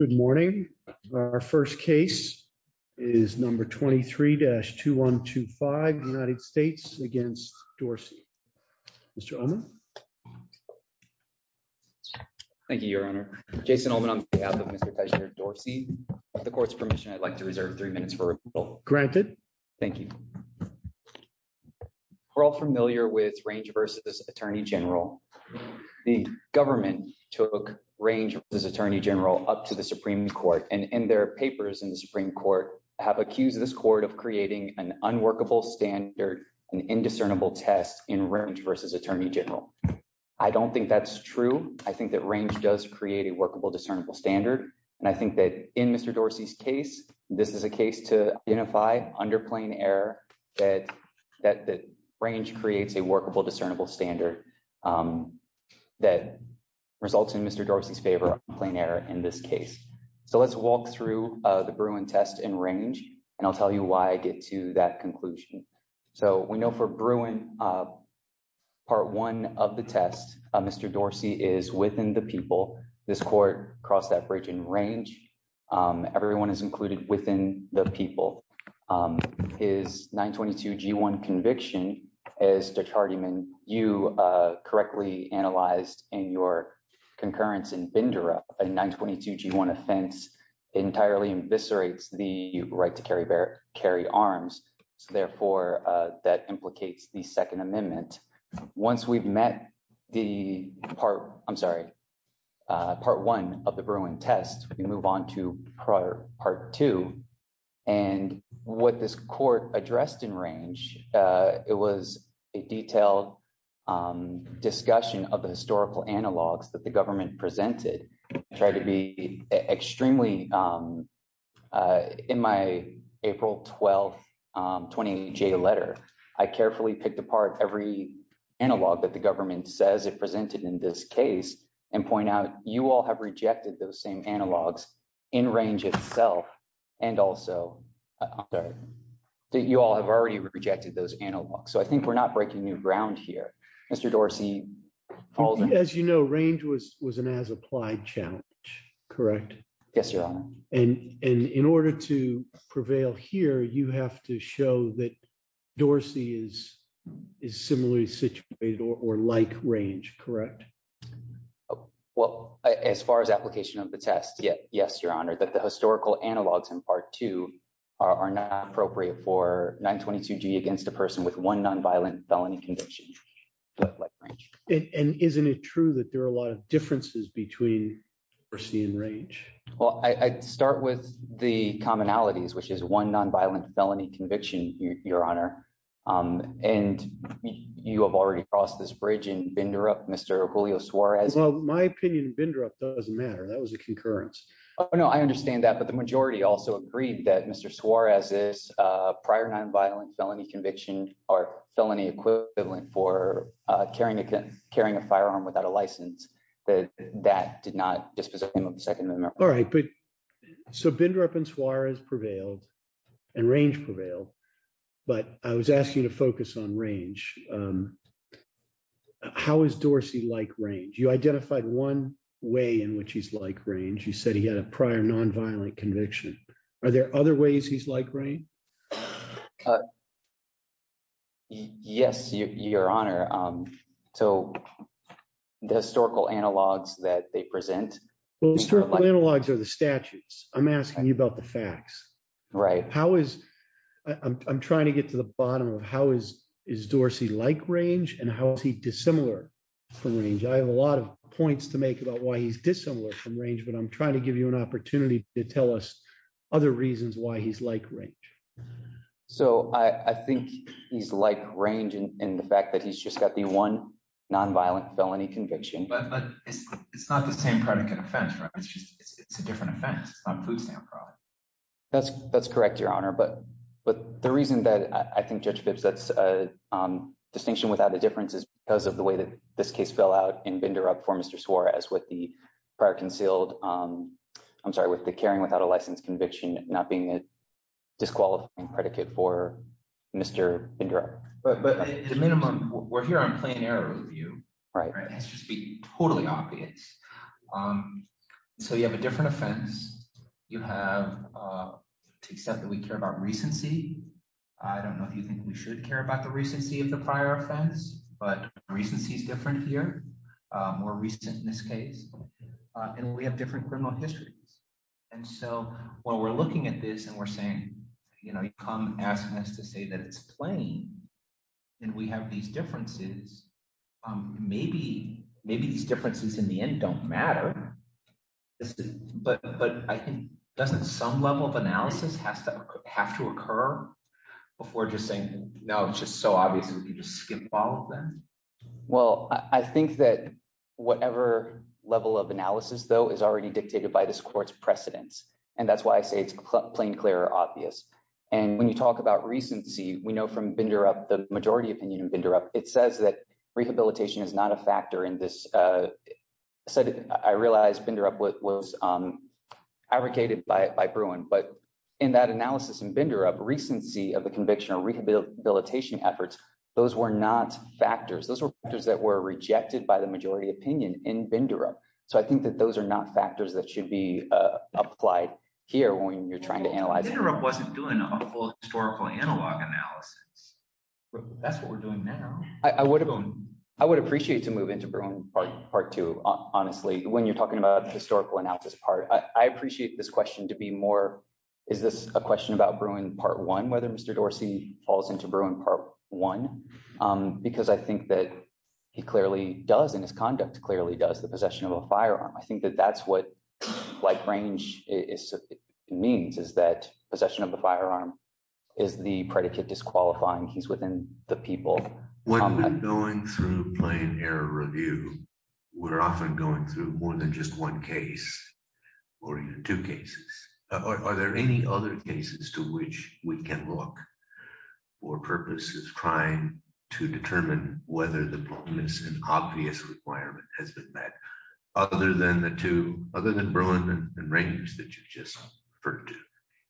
Good morning. Our first case is number 23-2125 United States against Dorsey. Mr. Ullman. Thank you, Your Honor. Jason Ullman on behalf of Mr. Tejinder Dorsey. With the court's permission, I'd like to reserve three minutes for a rebuttal. Granted. Thank you. We're all familiar with Range v. Attorney General. The government took Range v. Attorney General up to the Supreme Court. And their papers in the Supreme Court have accused this court of creating an unworkable standard, an indiscernible test in Range v. Attorney General. I don't think that's true. I think that Range does create a workable discernible standard. And I think that in Mr. Dorsey's case, this is a case to identify under plain error that Range creates a workable discernible standard that results in Mr. Dorsey's favor on plain error in this case. So let's walk through the Bruin test in Range, and I'll tell you why I get to that conclusion. So we know for Bruin, part one of the test, Mr. Dorsey is within the people. This court you correctly analyzed in your concurrence in Bindera, a 922G1 offense, entirely eviscerates the right to carry arms. So therefore, that implicates the Second Amendment. Once we've met the part, I'm sorry, part one of the Bruin test, we move on to prior part two. And what this court addressed in Range, it was a detailed discussion of the historical analogs that the government presented, tried to be extremely, in my April 12th 20J letter, I carefully picked apart every analog that the government says it presented in this case, and point out you all have rejected those same analogs in Range itself. And also that you all have already rejected those analogs. So I think we're not breaking new ground here. Mr. Dorsey. As you know, Range was an as applied challenge, correct? Yes, Your Honor. And in order to prevail here, you have to show that Dorsey is similarly situated or like Range, correct? Oh, well, as far as application of the test, yes, Your Honor, that the historical analogs in part two are not appropriate for 922G against a person with one nonviolent felony conviction. And isn't it true that there are a lot of differences between Dorsey and Range? Well, I start with the commonalities, which is one nonviolent felony conviction, Your Honor. And you have already crossed this bridge in Bindrup, Mr. Julio Suarez. Well, my opinion in Bindrup doesn't matter. That was a concurrence. No, I understand that. But the majority also agreed that Mr. Suarez's prior nonviolent felony conviction or felony equivalent for carrying a firearm without a license, that that did not dispossess him of the Second Amendment. All right, but so Bindrup and Suarez prevailed and Range prevailed, but I was asking you to focus on Range. How is Dorsey like Range? You identified one way in which he's like Range. You said he had a prior nonviolent conviction. Are there other ways he's like Range? Yes, Your Honor. So the historical analogs that they present. Well, historical analogs are the statutes. I'm asking you about the facts. Right. I'm trying to get to the bottom of how is Dorsey like Range and how is he dissimilar from Range? I have a lot of points to make about why he's dissimilar from Range, but I'm trying to give you an opportunity to tell us other reasons why he's like Range. So I think he's like Range in the fact that he's just got the one nonviolent felony conviction. But it's not the same predicate offense, right? It's just it's a different offense. It's not food stamp fraud. That's correct, Your Honor. But the reason that I think Judge Phipps sets a distinction without a difference is because of the way that this case fell out in Bindrup for Mr. Suarez with the prior concealed, I'm sorry, with the carrying without a license conviction not being a disqualifying predicate for Mr. Bindrup. But at the minimum, we're here on plain error review, right? That's just be totally obvious. So you have a different offense. You have to accept that we care about recency. I don't know if you think we should care about the recency of the prior offense, but recency is different here, more recent in this case, and we have different criminal histories. And so while we're looking at this and we're saying, you know, you come asking us to say that it's plain and we have these differences, maybe these differences in the end don't matter. But I think doesn't some level of analysis have to occur before just saying, no, it's just so obvious that we can just skip all of them? Well, I think that whatever level of analysis, though, is already dictated by this court's precedents. And that's why I say it's plain, clear, obvious. And when you talk about recency, we know from Bindrup, the majority opinion in Bindrup, it says that rehabilitation is not a factor in this. So I realized Bindrup was abrogated by Bruin, but in that analysis in Bindrup, recency of the conviction or rehabilitation efforts, those were not factors. Those were factors that were rejected by the majority opinion in Bindrup. So I think that those are not factors that should be applied here when you're trying to analyze. Bindrup wasn't doing a full historical analog analysis. That's what we're doing now. I would have, I would appreciate to move into Bruin part two, honestly, when you're talking about historical analysis part. I appreciate this question to be more, is this a question about Bruin part one, whether Mr. Dorsey falls into Bruin part one? Because I think that he clearly does in his conduct, clearly does the possession of a firearm. I think that that's what like range is, means is that possession of a firearm is the predicate disqualifying he's within the people. When we're going through plain error review, we're often going through more than just one case or even two cases. Are there any other cases to which we can look for purposes trying to determine whether the bonus and obvious requirement has been met other than the two, other than Bruin and Rangers that you've just referred to,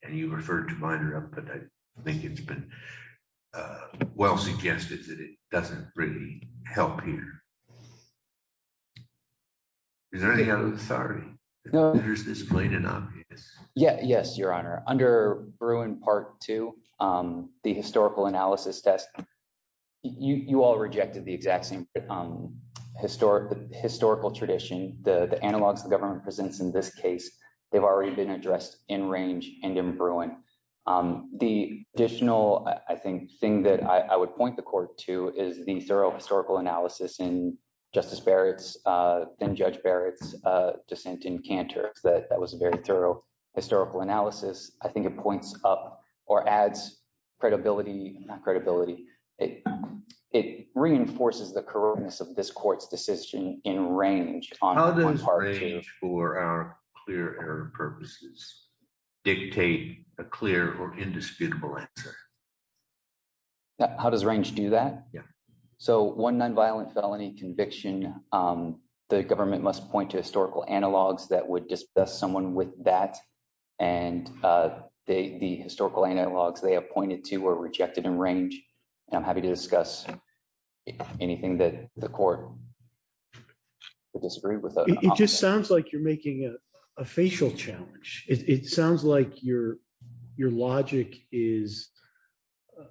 and you referred to Bindrup, but I think it's been well suggested that it doesn't really help here. Is there any other, sorry, there's this plain and obvious. Yeah, yes, Your Honor. Under Bruin part two, the historical analysis test, you all rejected the exact same historical tradition. The analogs the government presents in this case, they've already been addressed in range and in Bruin. The additional, I think, thing that I would point the court to is the thorough historical analysis in Justice Barrett's, Judge Barrett's dissent in Cantor. That was a very thorough historical analysis. I think it points up or adds credibility, not credibility. It reinforces the correctness of this court's decision in range. How does range for our clear error purposes dictate a clear or indisputable answer? How does range do that? Yeah. So one nonviolent felony conviction, the government must point to historical analogs that would discuss someone with that, and the historical analogs they have pointed to were rejected in range. And I'm happy to discuss anything that the court would disagree with. It just sounds like you're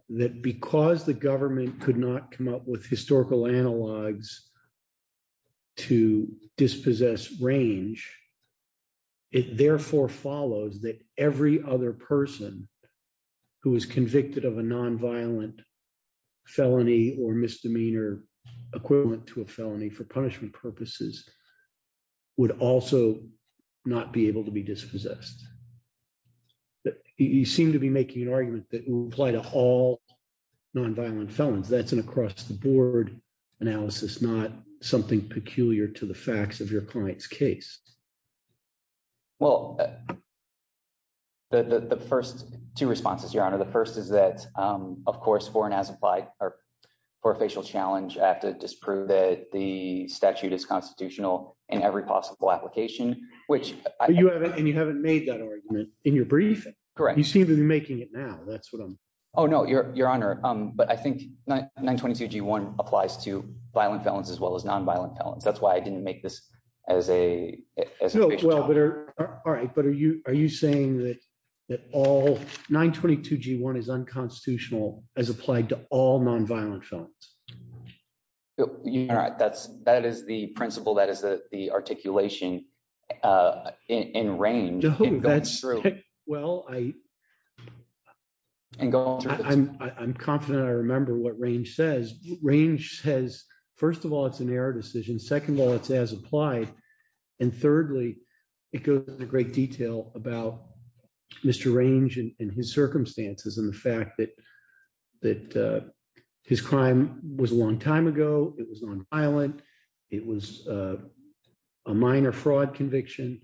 That because the government could not come up with historical analogs to dispossess range, it therefore follows that every other person who is convicted of a nonviolent felony or misdemeanor equivalent to a felony for punishment purposes would also not be able to be dispossessed. You seem to be making an argument that will apply to all nonviolent felons. That's an across the board analysis, not something peculiar to the facts of your client's case. Well, the first two responses, Your Honor, the first is that, of course, for an as implied or for a facial challenge, I have to disprove that the statute is constitutional in every possible application, which you haven't and you haven't made that argument in your brief. Correct. You seem to be making it now. That's what I'm. Oh, no, Your Honor. But I think 922 G1 applies to violent felons as well as nonviolent felons. That's why I didn't make this as a well. But all right. But are you are you saying that that all 922 G1 is unconstitutional as applied to all nonviolent felons? You know, that's that is the principle that is the articulation in range. That's true. Well, I and I'm confident I remember what range says. Range says, first of all, it's an error decision. Second of all, it's as applied. And thirdly, it goes into great detail about Mr. Range and his circumstances and the fact that that his crime was a long time ago. It was nonviolent. It was a minor fraud conviction.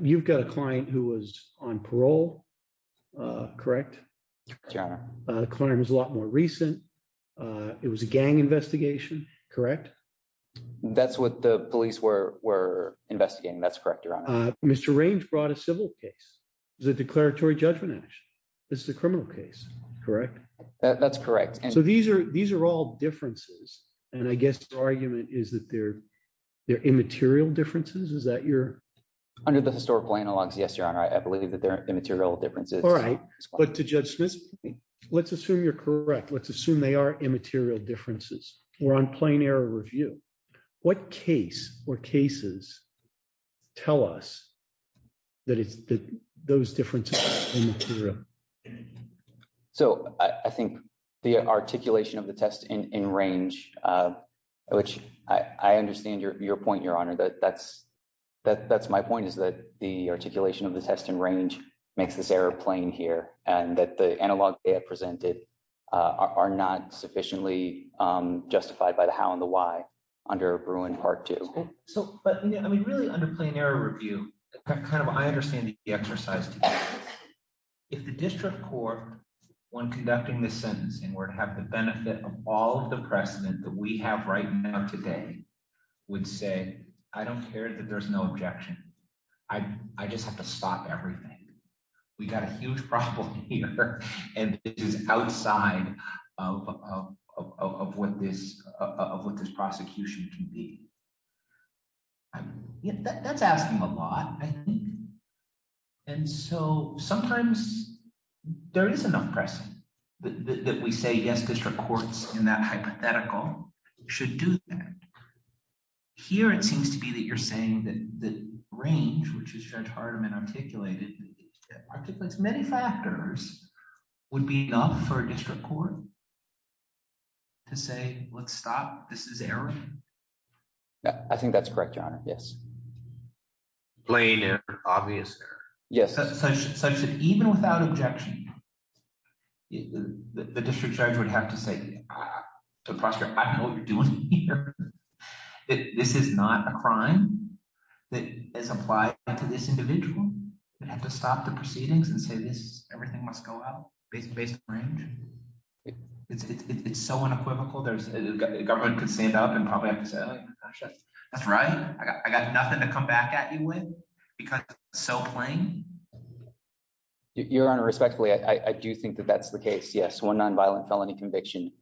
You've got a client who was on parole, correct? Yeah, the client was a lot more recent. It was a gang investigation, correct? That's what the police were were investigating. That's correct. Mr. Range brought a civil case, the declaratory judgment. This is a criminal case, correct? That's correct. So these are these are all differences. And I guess the argument is that they're immaterial differences, is that you're under the historical analogs? Yes, Your Honor. I believe that they're immaterial differences. All right. But to Judge Smith, let's assume you're correct. Let's assume they are immaterial differences. We're on plain error review. What case or cases tell us that it's those differences? So I think the articulation of the test in Range, which I understand your point, Your Honor, that that's that that's my point, is that the articulation of the test in Range makes this error plain here and that the analog presented are not sufficiently justified by the how and the why under Bruin Part Two. So but I mean, really under plain error review, kind of I understand the exercise. If the district court, when conducting this sentence, and were to have the benefit of all of the precedent that we have right now today, would say, I don't care that there's no objection. I just have to stop everything. We got a huge problem here. And it is outside of what this prosecution can be. That's asking a lot, I think. And so sometimes there is enough precedent that we say, yes, district courts in that hypothetical should do that. Here, it seems to be that you're saying that the Range, which is Judge Hardiman articulated, articulates many factors would be enough for a district court to say, let's stop, this is error. I think that's correct, Your Honor. Yes. Plain and obvious error. Yes. Such that even without objection, the district judge would have to say to the prosecutor, I know what you're doing here. This is not a crime that is applied to this individual. They'd have to stop the proceedings and say this, everything must go out based on Range. It's so unequivocal. The government could stand up and probably have to say, that's right. I got nothing to come back at you with because it's so plain. Your Honor, respectfully, I do think that that's the case. Yes, one nonviolent felony conviction.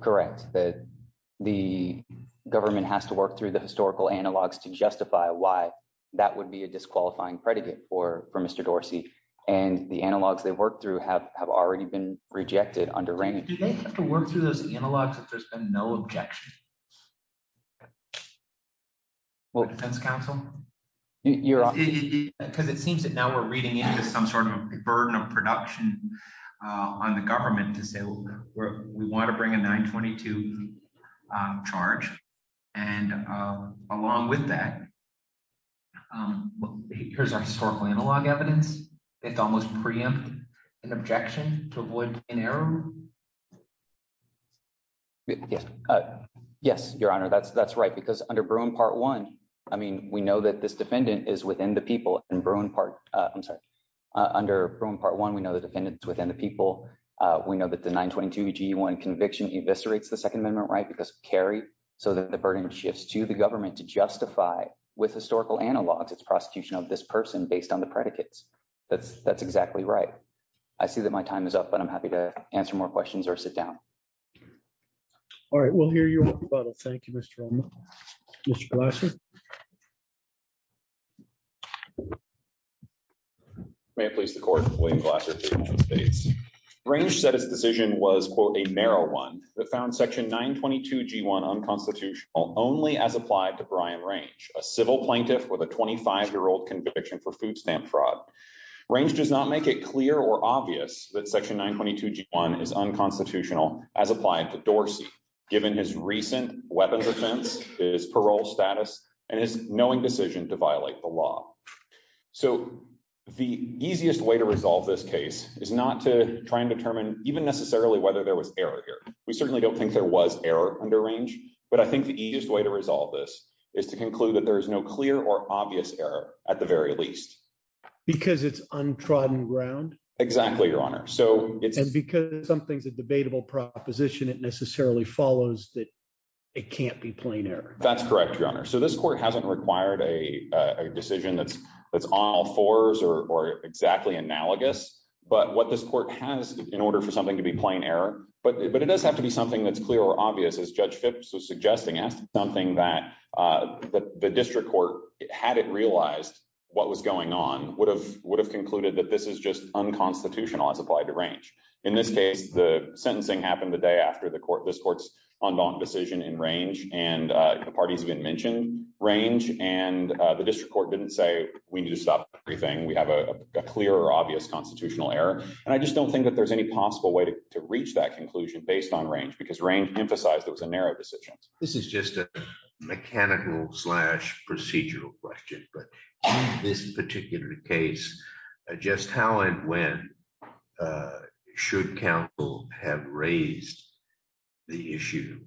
Correct. The government has to work through the historical analogs to justify why that would be a disqualifying predicate for Mr. Dorsey and the analogs they've worked through have already been rejected under Range. Do they have to work through those analogs if there's been no objection from the defense counsel? Because it seems that now we're reading into some sort of burden of production on the government to say, we want to bring a 922 charge. Along with that, well, here's our historical analog evidence. It's almost preempt an objection to avoid an error. Yes, Your Honor, that's right. Because under Bruin Part 1, I mean, we know that this defendant is within the people and Bruin Part, I'm sorry, under Bruin Part 1, we know the defendants within the people. We know that the 922 G1 conviction eviscerates the Second Amendment, right? Because carried so that the burden shifts to the government to justify with historical analogs, it's prosecution of this person based on the predicates. That's exactly right. I see that my time is up, but I'm happy to answer more questions or sit down. All right, we'll hear you on the bottle. Thank you, Mr. Romano. Mr. Glasser. May it please the Court, William Glasser, Chief Justice Bates. Range said his decision was, a narrow one that found Section 922 G1 unconstitutional only as applied to Brian Range, a civil plaintiff with a 25-year-old conviction for food stamp fraud. Range does not make it clear or obvious that Section 922 G1 is unconstitutional as applied to Dorsey, given his recent weapons offense, his parole status, and his knowing decision to violate the law. So the easiest way to resolve this case is not to try and determine even necessarily whether there was error here. We certainly don't think there was error under Range, but I think the easiest way to resolve this is to conclude that there is no clear or obvious error, at the very least. Because it's untrodden ground? Exactly, Your Honor. And because something's a debatable proposition, it necessarily follows that it can't be plain error. That's correct, Your Honor. So this Court hasn't required a decision that's on all fours or exactly analogous. But what this Court has, in order for something to be plain error, but it does have to be something that's clear or obvious, as Judge Phipps was suggesting, as something that the District Court, had it realized what was going on, would have concluded that this is just unconstitutional as applied to Range. In this case, the sentencing happened the day after this Court's undaunted decision in Range, and the parties have been mentioned, Range, and the District Court didn't say, we need to stop everything. We have a clear or obvious constitutional error. And I just don't think that there's any possible way to reach that conclusion based on Range, because Range emphasized it was a narrow decision. This is just a mechanical slash procedural question, but in this particular case, just how and when should counsel have raised the issue?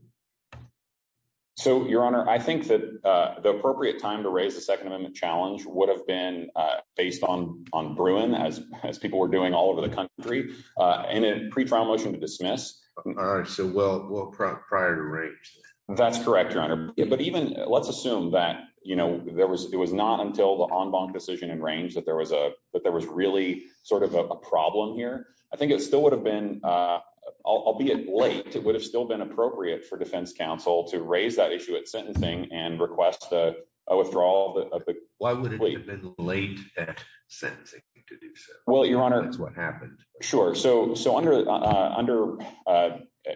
So, Your Honor, I think that the appropriate time to raise the Second Amendment challenge would have been based on Bruin, as people were doing all over the country, and a pretrial motion to dismiss. All right, so well prior to Range. That's correct, Your Honor. But even, let's assume that, you know, there was, it was not until the en banc decision in Range that there was a, that there was really sort of a problem here. I think it still would have been, albeit late, it would have still been appropriate for defense counsel to raise that issue at sentencing and request a withdrawal of the plea. Why would it have been late at sentencing? Well, Your Honor. That's what happened. Sure, so under,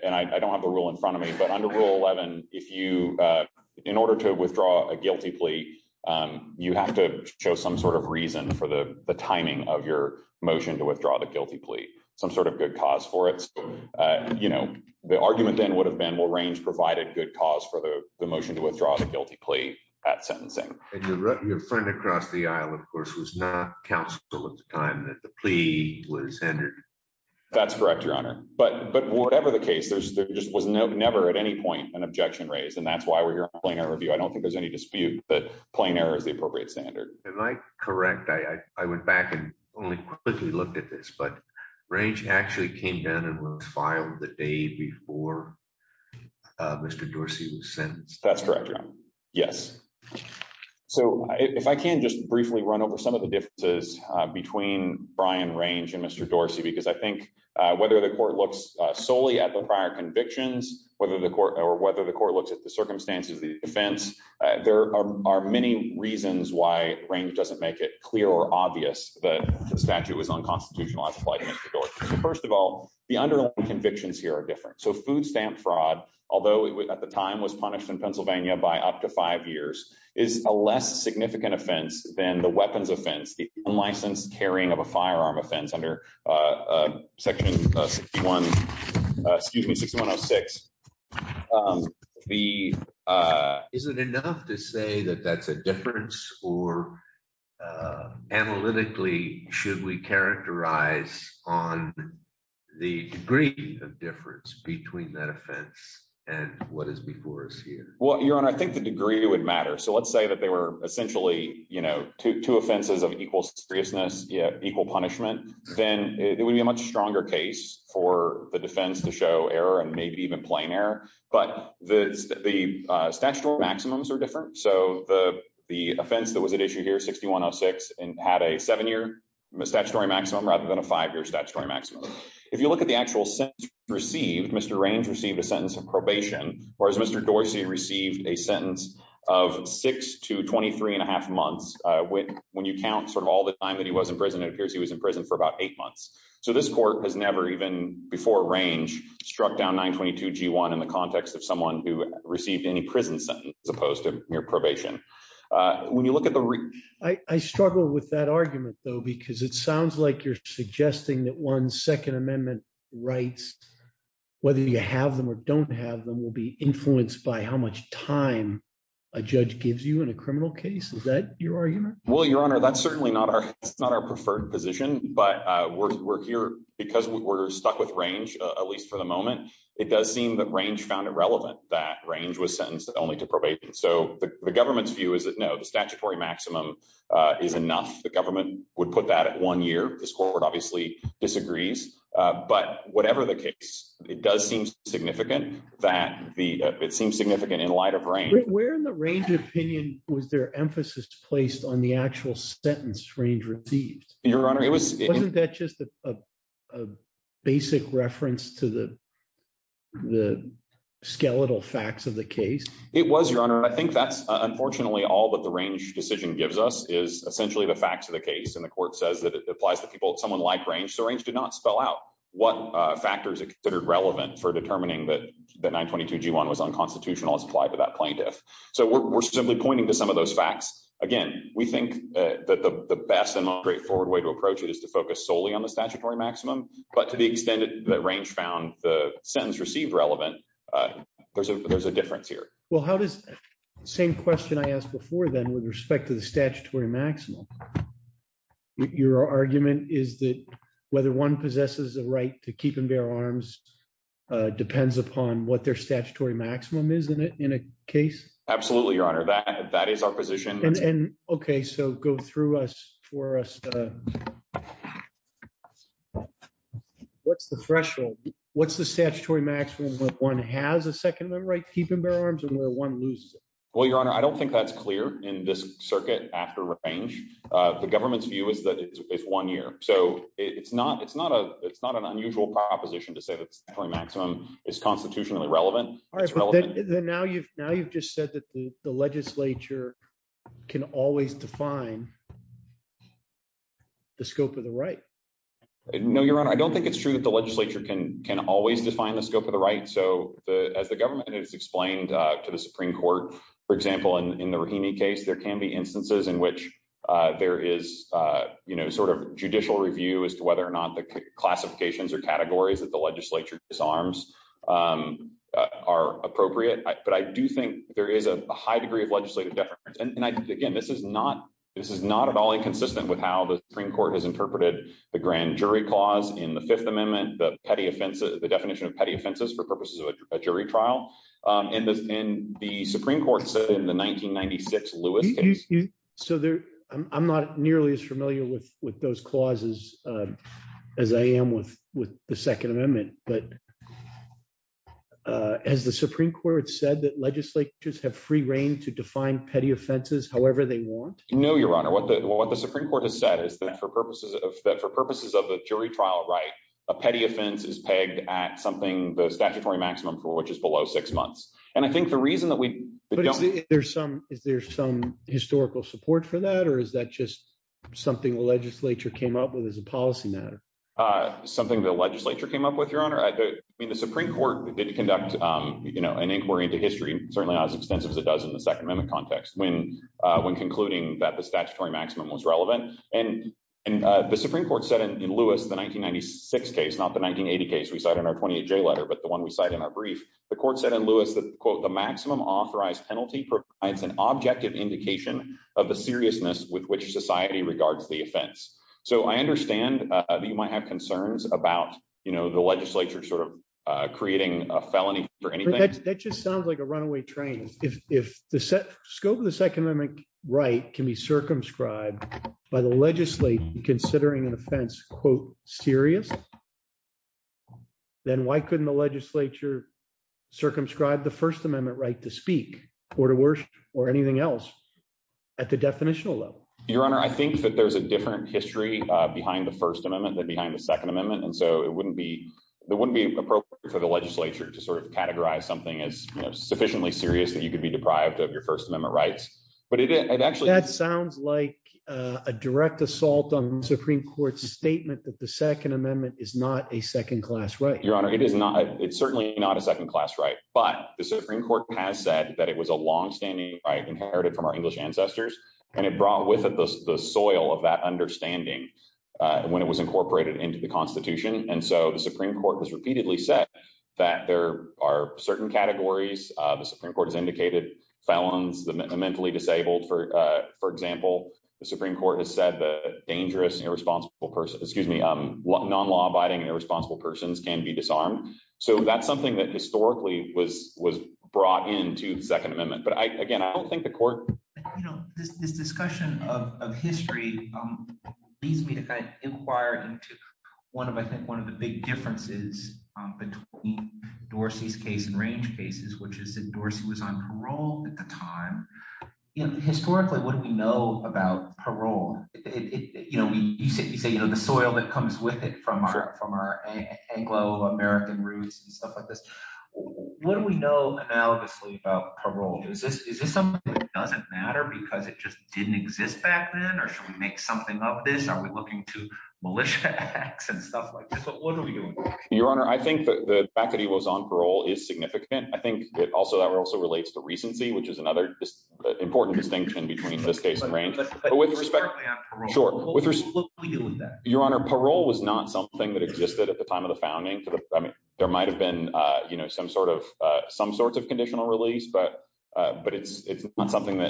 and I don't have the rule in front of me, but under Rule 11, if you, in order to withdraw a guilty plea, you have to show some sort of reason for the timing of your motion to withdraw the guilty plea. Some sort of good cause for it. You know, the argument then would have been, well, Range provided good cause for the motion to withdraw the guilty plea at sentencing. And your friend across the aisle, of course, was not counsel at the time that the plea was entered. That's correct, Your Honor. But whatever the case, there just was never at any point an objection raised, and that's why we're here on Plain Error Review. I don't think there's any dispute that plain error is the appropriate standard. Am I correct? I went back and only quickly looked at this, but Range actually came down and was filed the day before Mr. Dorsey was sentenced. That's correct, Your Honor. Yes. So if I can just briefly run over some of the differences between Brian Range and Mr. Dorsey, because I think whether the court looks solely at the prior convictions, whether the court, or whether the court looks at the circumstances of the offense, there are many reasons why Range doesn't make it clear or obvious that the statute was unconstitutional at the plight of Mr. Dorsey. So first of all, the underlying convictions here are different. So food stamp fraud, although it at the time was punished in Pennsylvania by up to five years, is a less significant offense than the weapons offense, the unlicensed carrying of a firearm offense under section 61, excuse me, 6106. Is it enough to say that that's a difference, or analytically, should we characterize on the degree of difference between that offense and what is before us here? Well, Your Honor, I think the degree would matter. So let's say that were essentially two offenses of equal seriousness, equal punishment, then it would be a much stronger case for the defense to show error and maybe even plain error. But the statutory maximums are different. So the offense that was at issue here, 6106, had a seven-year statutory maximum rather than a five-year statutory maximum. If you look at the actual sentence received, Mr. Range received a sentence of probation, whereas Mr. Dorsey received a sentence of six to 23 and a half months when you count sort of all the time that he was in prison, it appears he was in prison for about eight months. So this court has never even, before Range, struck down 922 G1 in the context of someone who received any prison sentence as opposed to mere probation. When you look at the... I struggle with that argument, though, because it sounds like you're suggesting that one's don't have them will be influenced by how much time a judge gives you in a criminal case. Is that your argument? Well, Your Honor, that's certainly not our preferred position, but we're here because we're stuck with Range, at least for the moment. It does seem that Range found irrelevant that Range was sentenced only to probation. So the government's view is that, no, the statutory maximum is enough. The government would put that at one year. This court obviously disagrees, but whatever the case, it does seem significant that it seems significant in light of Range. Where in the Range opinion was their emphasis placed on the actual sentence Range received? Your Honor, it was... Wasn't that just a basic reference to the skeletal facts of the case? It was, Your Honor. I think that's unfortunately all that the Range decision gives us is essentially the facts of the case. And the court says that it applies to people, someone like Range. So what factors are considered relevant for determining that the 922-G1 was unconstitutional as applied to that plaintiff? So we're simply pointing to some of those facts. Again, we think that the best and most straightforward way to approach it is to focus solely on the statutory maximum, but to the extent that Range found the sentence received relevant, there's a difference here. Well, how does... Same question I asked before then with respect to the statutory maximum. Your argument is that whether one possesses the right to keep and bear arms depends upon what their statutory maximum is in a case? Absolutely, Your Honor. That is our position. And okay, so go through us for us... What's the threshold? What's the statutory maximum when one has a second right to keep and bear arms and where one loses it? Well, Your Honor, I don't think that's clear in this after Range. The government's view is that it's one year. So it's not an unusual proposition to say that the statutory maximum is constitutionally relevant. It's relevant. All right, but then now you've just said that the legislature can always define the scope of the right. No, Your Honor. I don't think it's true that the legislature can always define the scope of the right. So as the government has explained to the Supreme Court, for example, in the Rahimi case, there can be instances in which there is judicial review as to whether or not the classifications or categories that the legislature disarms are appropriate. But I do think there is a high degree of legislative difference. And again, this is not at all inconsistent with how the Supreme Court has interpreted the grand jury clause in the Fifth Amendment, the definition of petty offenses for purposes of a jury trial. And the Supreme Court said in the 1996 Lewis. So I'm not nearly as familiar with those clauses as I am with the Second Amendment. But has the Supreme Court said that legislatures have free reign to define petty offenses however they want? No, Your Honor. What the Supreme Court has said is that for purposes of a jury trial right, a petty offense is pegged at something the statutory maximum for which is below six months. And I think the reason that we don't see there's some is there some historical support for that, or is that just something the legislature came up with as a policy matter? Something the legislature came up with, Your Honor. I mean, the Supreme Court did conduct an inquiry into history, certainly not as extensive as it does in the Second Amendment context when when concluding that the statutory maximum was relevant. And, and the Supreme Court said in Lewis, the 1996 case, not the 1980 case, we cite in our 28 J letter, but the one we cite in our brief, the court said in Lewis that, quote, the maximum authorized penalty provides an objective indication of the seriousness with which society regards the offense. So I understand that you might have concerns about, you know, the legislature sort of creating a felony for anything that just sounds like a runaway train. If the scope of the Second Amendment right can be circumscribed by the legislature considering an offense, quote, serious, then why couldn't the legislature circumscribe the First Amendment right to speak or to worship or anything else at the definitional level? Your Honor, I think that there's a different history behind the First Amendment than behind the Second Amendment. And so it wouldn't be, it wouldn't be appropriate for the legislature to sort of categorize something as sufficiently serious that you could be deprived of your First Amendment rights. But it actually sounds like a direct assault on the Supreme Court's statement that the Second Amendment is not a second class right. Your Honor, it is not, it's certainly not a second class right. But the Supreme Court has said that it was a longstanding right inherited from our English ancestors. And it brought with it the soil of that understanding when it was incorporated into the Constitution. And so the Supreme Court has repeatedly said, there are certain categories, the Supreme Court has indicated felons, the mentally disabled, for example, the Supreme Court has said the dangerous, irresponsible person, excuse me, non-law abiding and irresponsible persons can be disarmed. So that's something that historically was brought into the Second Amendment. But I again, I don't think the court... You know, this discussion of history leads me to kind of inquire into one of, I think, of the big differences between Dorsey's case and range cases, which is that Dorsey was on parole at the time. Historically, what do we know about parole? You say, you know, the soil that comes with it from our Anglo American roots and stuff like this. What do we know analogously about parole? Is this something that doesn't matter because it just didn't exist back then? Or should I make something of this? Are we looking to militia acts and stuff like this? What are we doing? Your Honor, I think the fact that he was on parole is significant. I think it also, that also relates to recency, which is another important distinction between this case and range. Your Honor, parole was not something that existed at the time of the founding. There might have been, you know, some sort of conditional release, but it's not something that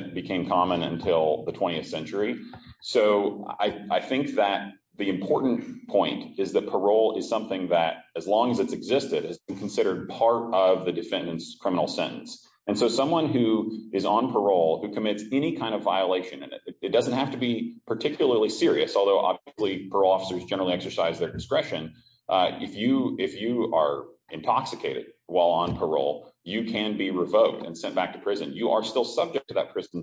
I think that the important point is that parole is something that, as long as it's existed, has been considered part of the defendant's criminal sentence. And so someone who is on parole who commits any kind of violation in it, it doesn't have to be particularly serious, although obviously parole officers generally exercise their discretion. If you are intoxicated while on parole, you can be revoked and sent back to prison. You are still subject to that prison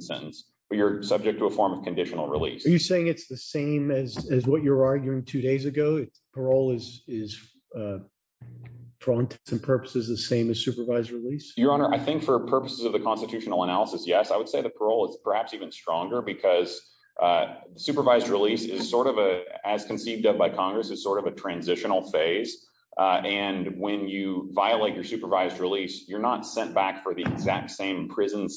release. Are you saying it's the same as what you're arguing two days ago? Parole is, for all intents and purposes, the same as supervised release? Your Honor, I think for purposes of the constitutional analysis, yes, I would say the parole is perhaps even stronger because supervised release is sort of a, as conceived of by Congress, is sort of a transitional phase. And when you violate your supervised release, you're not sent back for the exact same prison,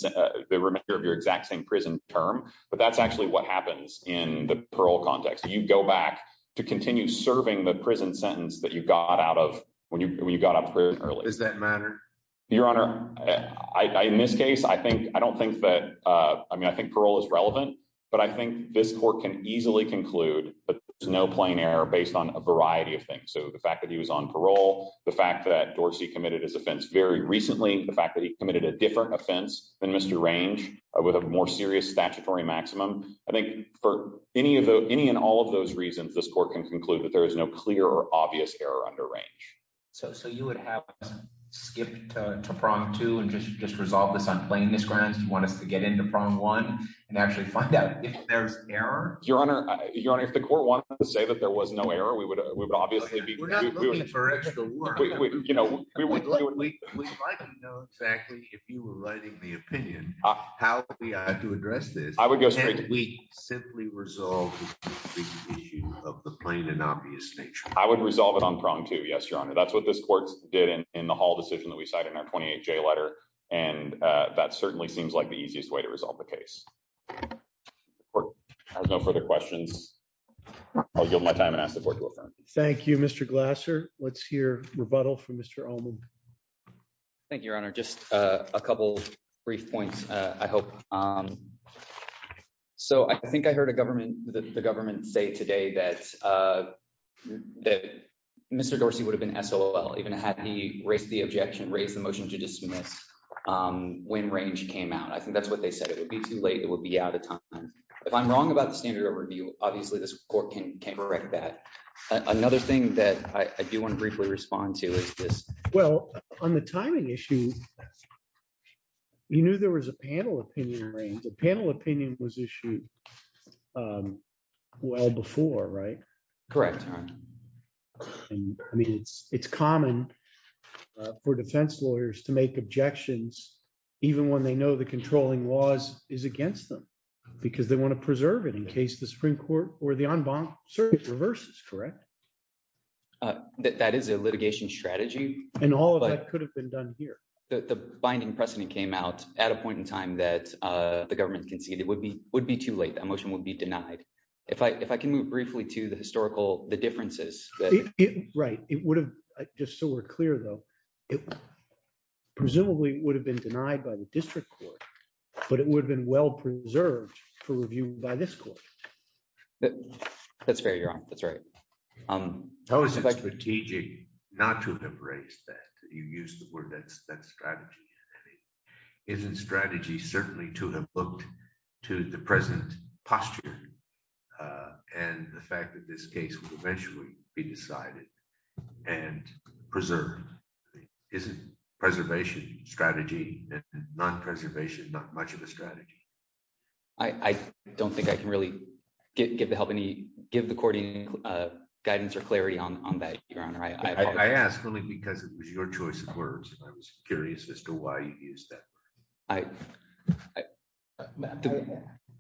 the remainder of your exact same prison term, but that's actually what happens in the parole context. You go back to continue serving the prison sentence that you got out of when you got out of prison early. Does that matter? Your Honor, in this case, I think, I don't think that, I mean, I think parole is relevant, but I think this court can easily conclude that there's no plain error based on a variety of things. So the fact that he was on parole, the fact that Dorsey committed his offense very recently, the fact that he committed a different offense than Mr. Range with a more serious statutory maximum, I think for any of the, any and all of those reasons, this court can conclude that there is no clear or obvious error under range. So, so you would have skipped to prong two and just, just resolve this on plainness grounds. Do you want us to get into prong one and actually find out if there's error? Your Honor, Your Honor, if the court wanted to say that there was no error, we would, we would obviously be, we're not looking for extra work. We would like to know exactly if you were writing the opinion, how we had to address this. I would go straight, we simply resolve the issue of the plain and obvious nature. I would resolve it on prong two. Yes, Your Honor. That's what this court did in, in the hall decision that we cited in our 28 J letter. And that certainly seems like the easiest way to resolve the case. I have no further questions. I'll give my time and ask Thank you, Mr. Glasser. Let's hear rebuttal from Mr. Allman. Thank you, Your Honor. Just a couple brief points. I hope. So I think I heard a government, the government say today that, that Mr. Dorsey would have been SOL even had he raised the objection, raised the motion to dismiss when range came out. I think that's what they said. It would be too late. It would be out of time. If I'm wrong about the standard overview, obviously this court can correct that. Another thing that I do want to briefly respond to is this. Well, on the timing issue, you knew there was a panel opinion range. The panel opinion was issued well before, right? Correct. I mean, it's, it's common for defense lawyers to make objections, even when they know the controlling laws is against them, because they want to preserve it in case the Supreme Court or the en banc serves reverses, correct? That is a litigation strategy. And all of that could have been done here. The binding precedent came out at a point in time that the government conceded would be, would be too late. That motion would be denied. If I, if I can move briefly to the historical, the differences. Right. It would have, just so we're clear though, it presumably would have been denied by the district court, but it would have been well preserved for review by this court. That's fair. You're on. That's right. How is it strategic not to have raised that you use the word that's that strategy isn't strategy certainly to have booked to the present posture and the fact that this case will eventually be decided and preserved. Isn't preservation strategy, non-preservation, not much of a strategy. I don't think I can really get, give the help any, give the courting guidance or clarity on, on that. Your Honor. I asked only because it was your choice of words. I was curious as to why you use that. I,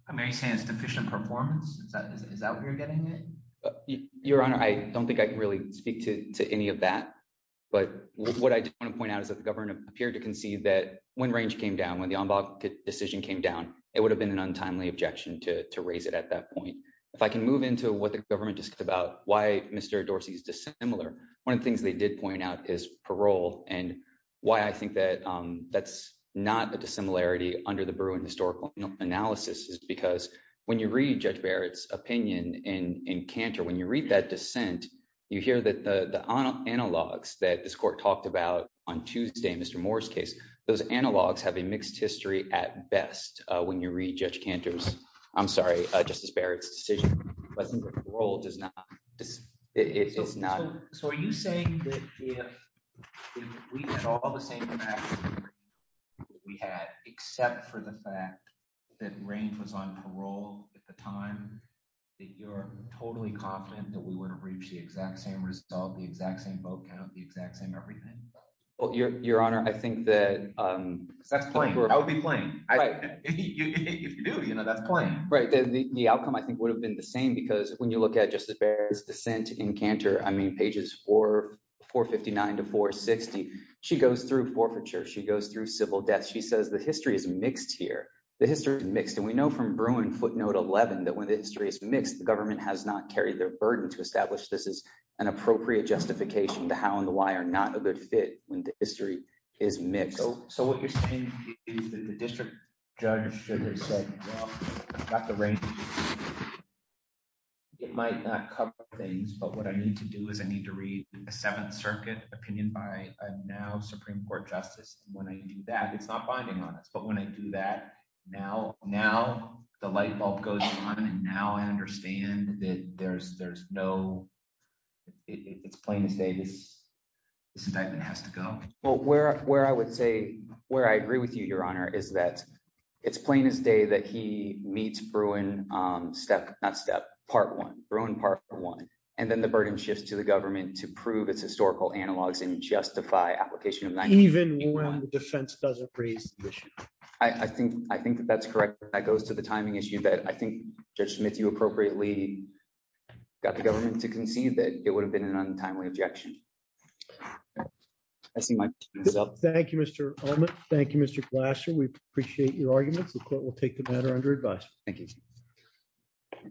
I may say it's deficient performance. Is that what you're getting at? Your Honor. I don't think I can really speak to any of that, but what I want to point out is that the government appeared to concede that when range came down, when the ombud decision came down, it would have been an untimely objection to raise it at that point. If I can move into what the government discussed about why Mr. Dorsey is dissimilar. One of the things they did point out is parole and why I think that that's not a dissimilarity under the Bruin historical analysis is because when you read Judge Barrett's opinion in, in Cantor, when you read that dissent, you hear that the, the analogs that this court talked about on Tuesday, Mr. Moore's case, those analogs have a mixed history at best. When you read Judge Cantor's, I'm sorry, Justice Barrett's decision wasn't, parole does not, it's not. So are you saying that if we did all the same things we had, except for the fact that range was on parole at the time that you're totally confident that we would have reached the exact same result, the exact same vote count, the exact same, everything. Well, your, your Honor, I think that, um, that's fine. I would be playing. If you do, you know, that's fine. Right. The outcome, I think would have been the same because when you look at Justice Barrett's dissent in Cantor, I mean, pages four, 459 to 460, she goes through forfeiture. She goes through civil deaths. She says the history is mixed here. The history is mixed. And we know from Bruin footnote 11, that when the history is mixed, the government has not carried their burden to establish this as an appropriate justification to how and why are not a good fit when the history is mixed. So what you're saying is that the district judge should have said, well, not the range. It might not cover things, but what I need to do is I need to read a seventh circuit opinion by a now Supreme court justice. And when I do that, it's not binding on us. But when I do that now, now the light bulb goes on. And now I understand that there's, there's no, it's plain to say this, this indictment has to go. Well, where, where I would say where I agree with you, your honor, is that it's plain as day that he meets Bruin step, not step part one, Bruin part one, and then the burden shifts to the government to prove it's historical analogs and justify application of. Even when the defense doesn't raise the issue. I think, I think that that's correct. That goes to the timing issue that I think judge Smith, you appropriately got the government to concede that it would have been an untimely objection. I see myself. Thank you, Mr. Olman. Thank you, Mr. Glasser. We appreciate your arguments. The court will take the matter under advice. Thank you.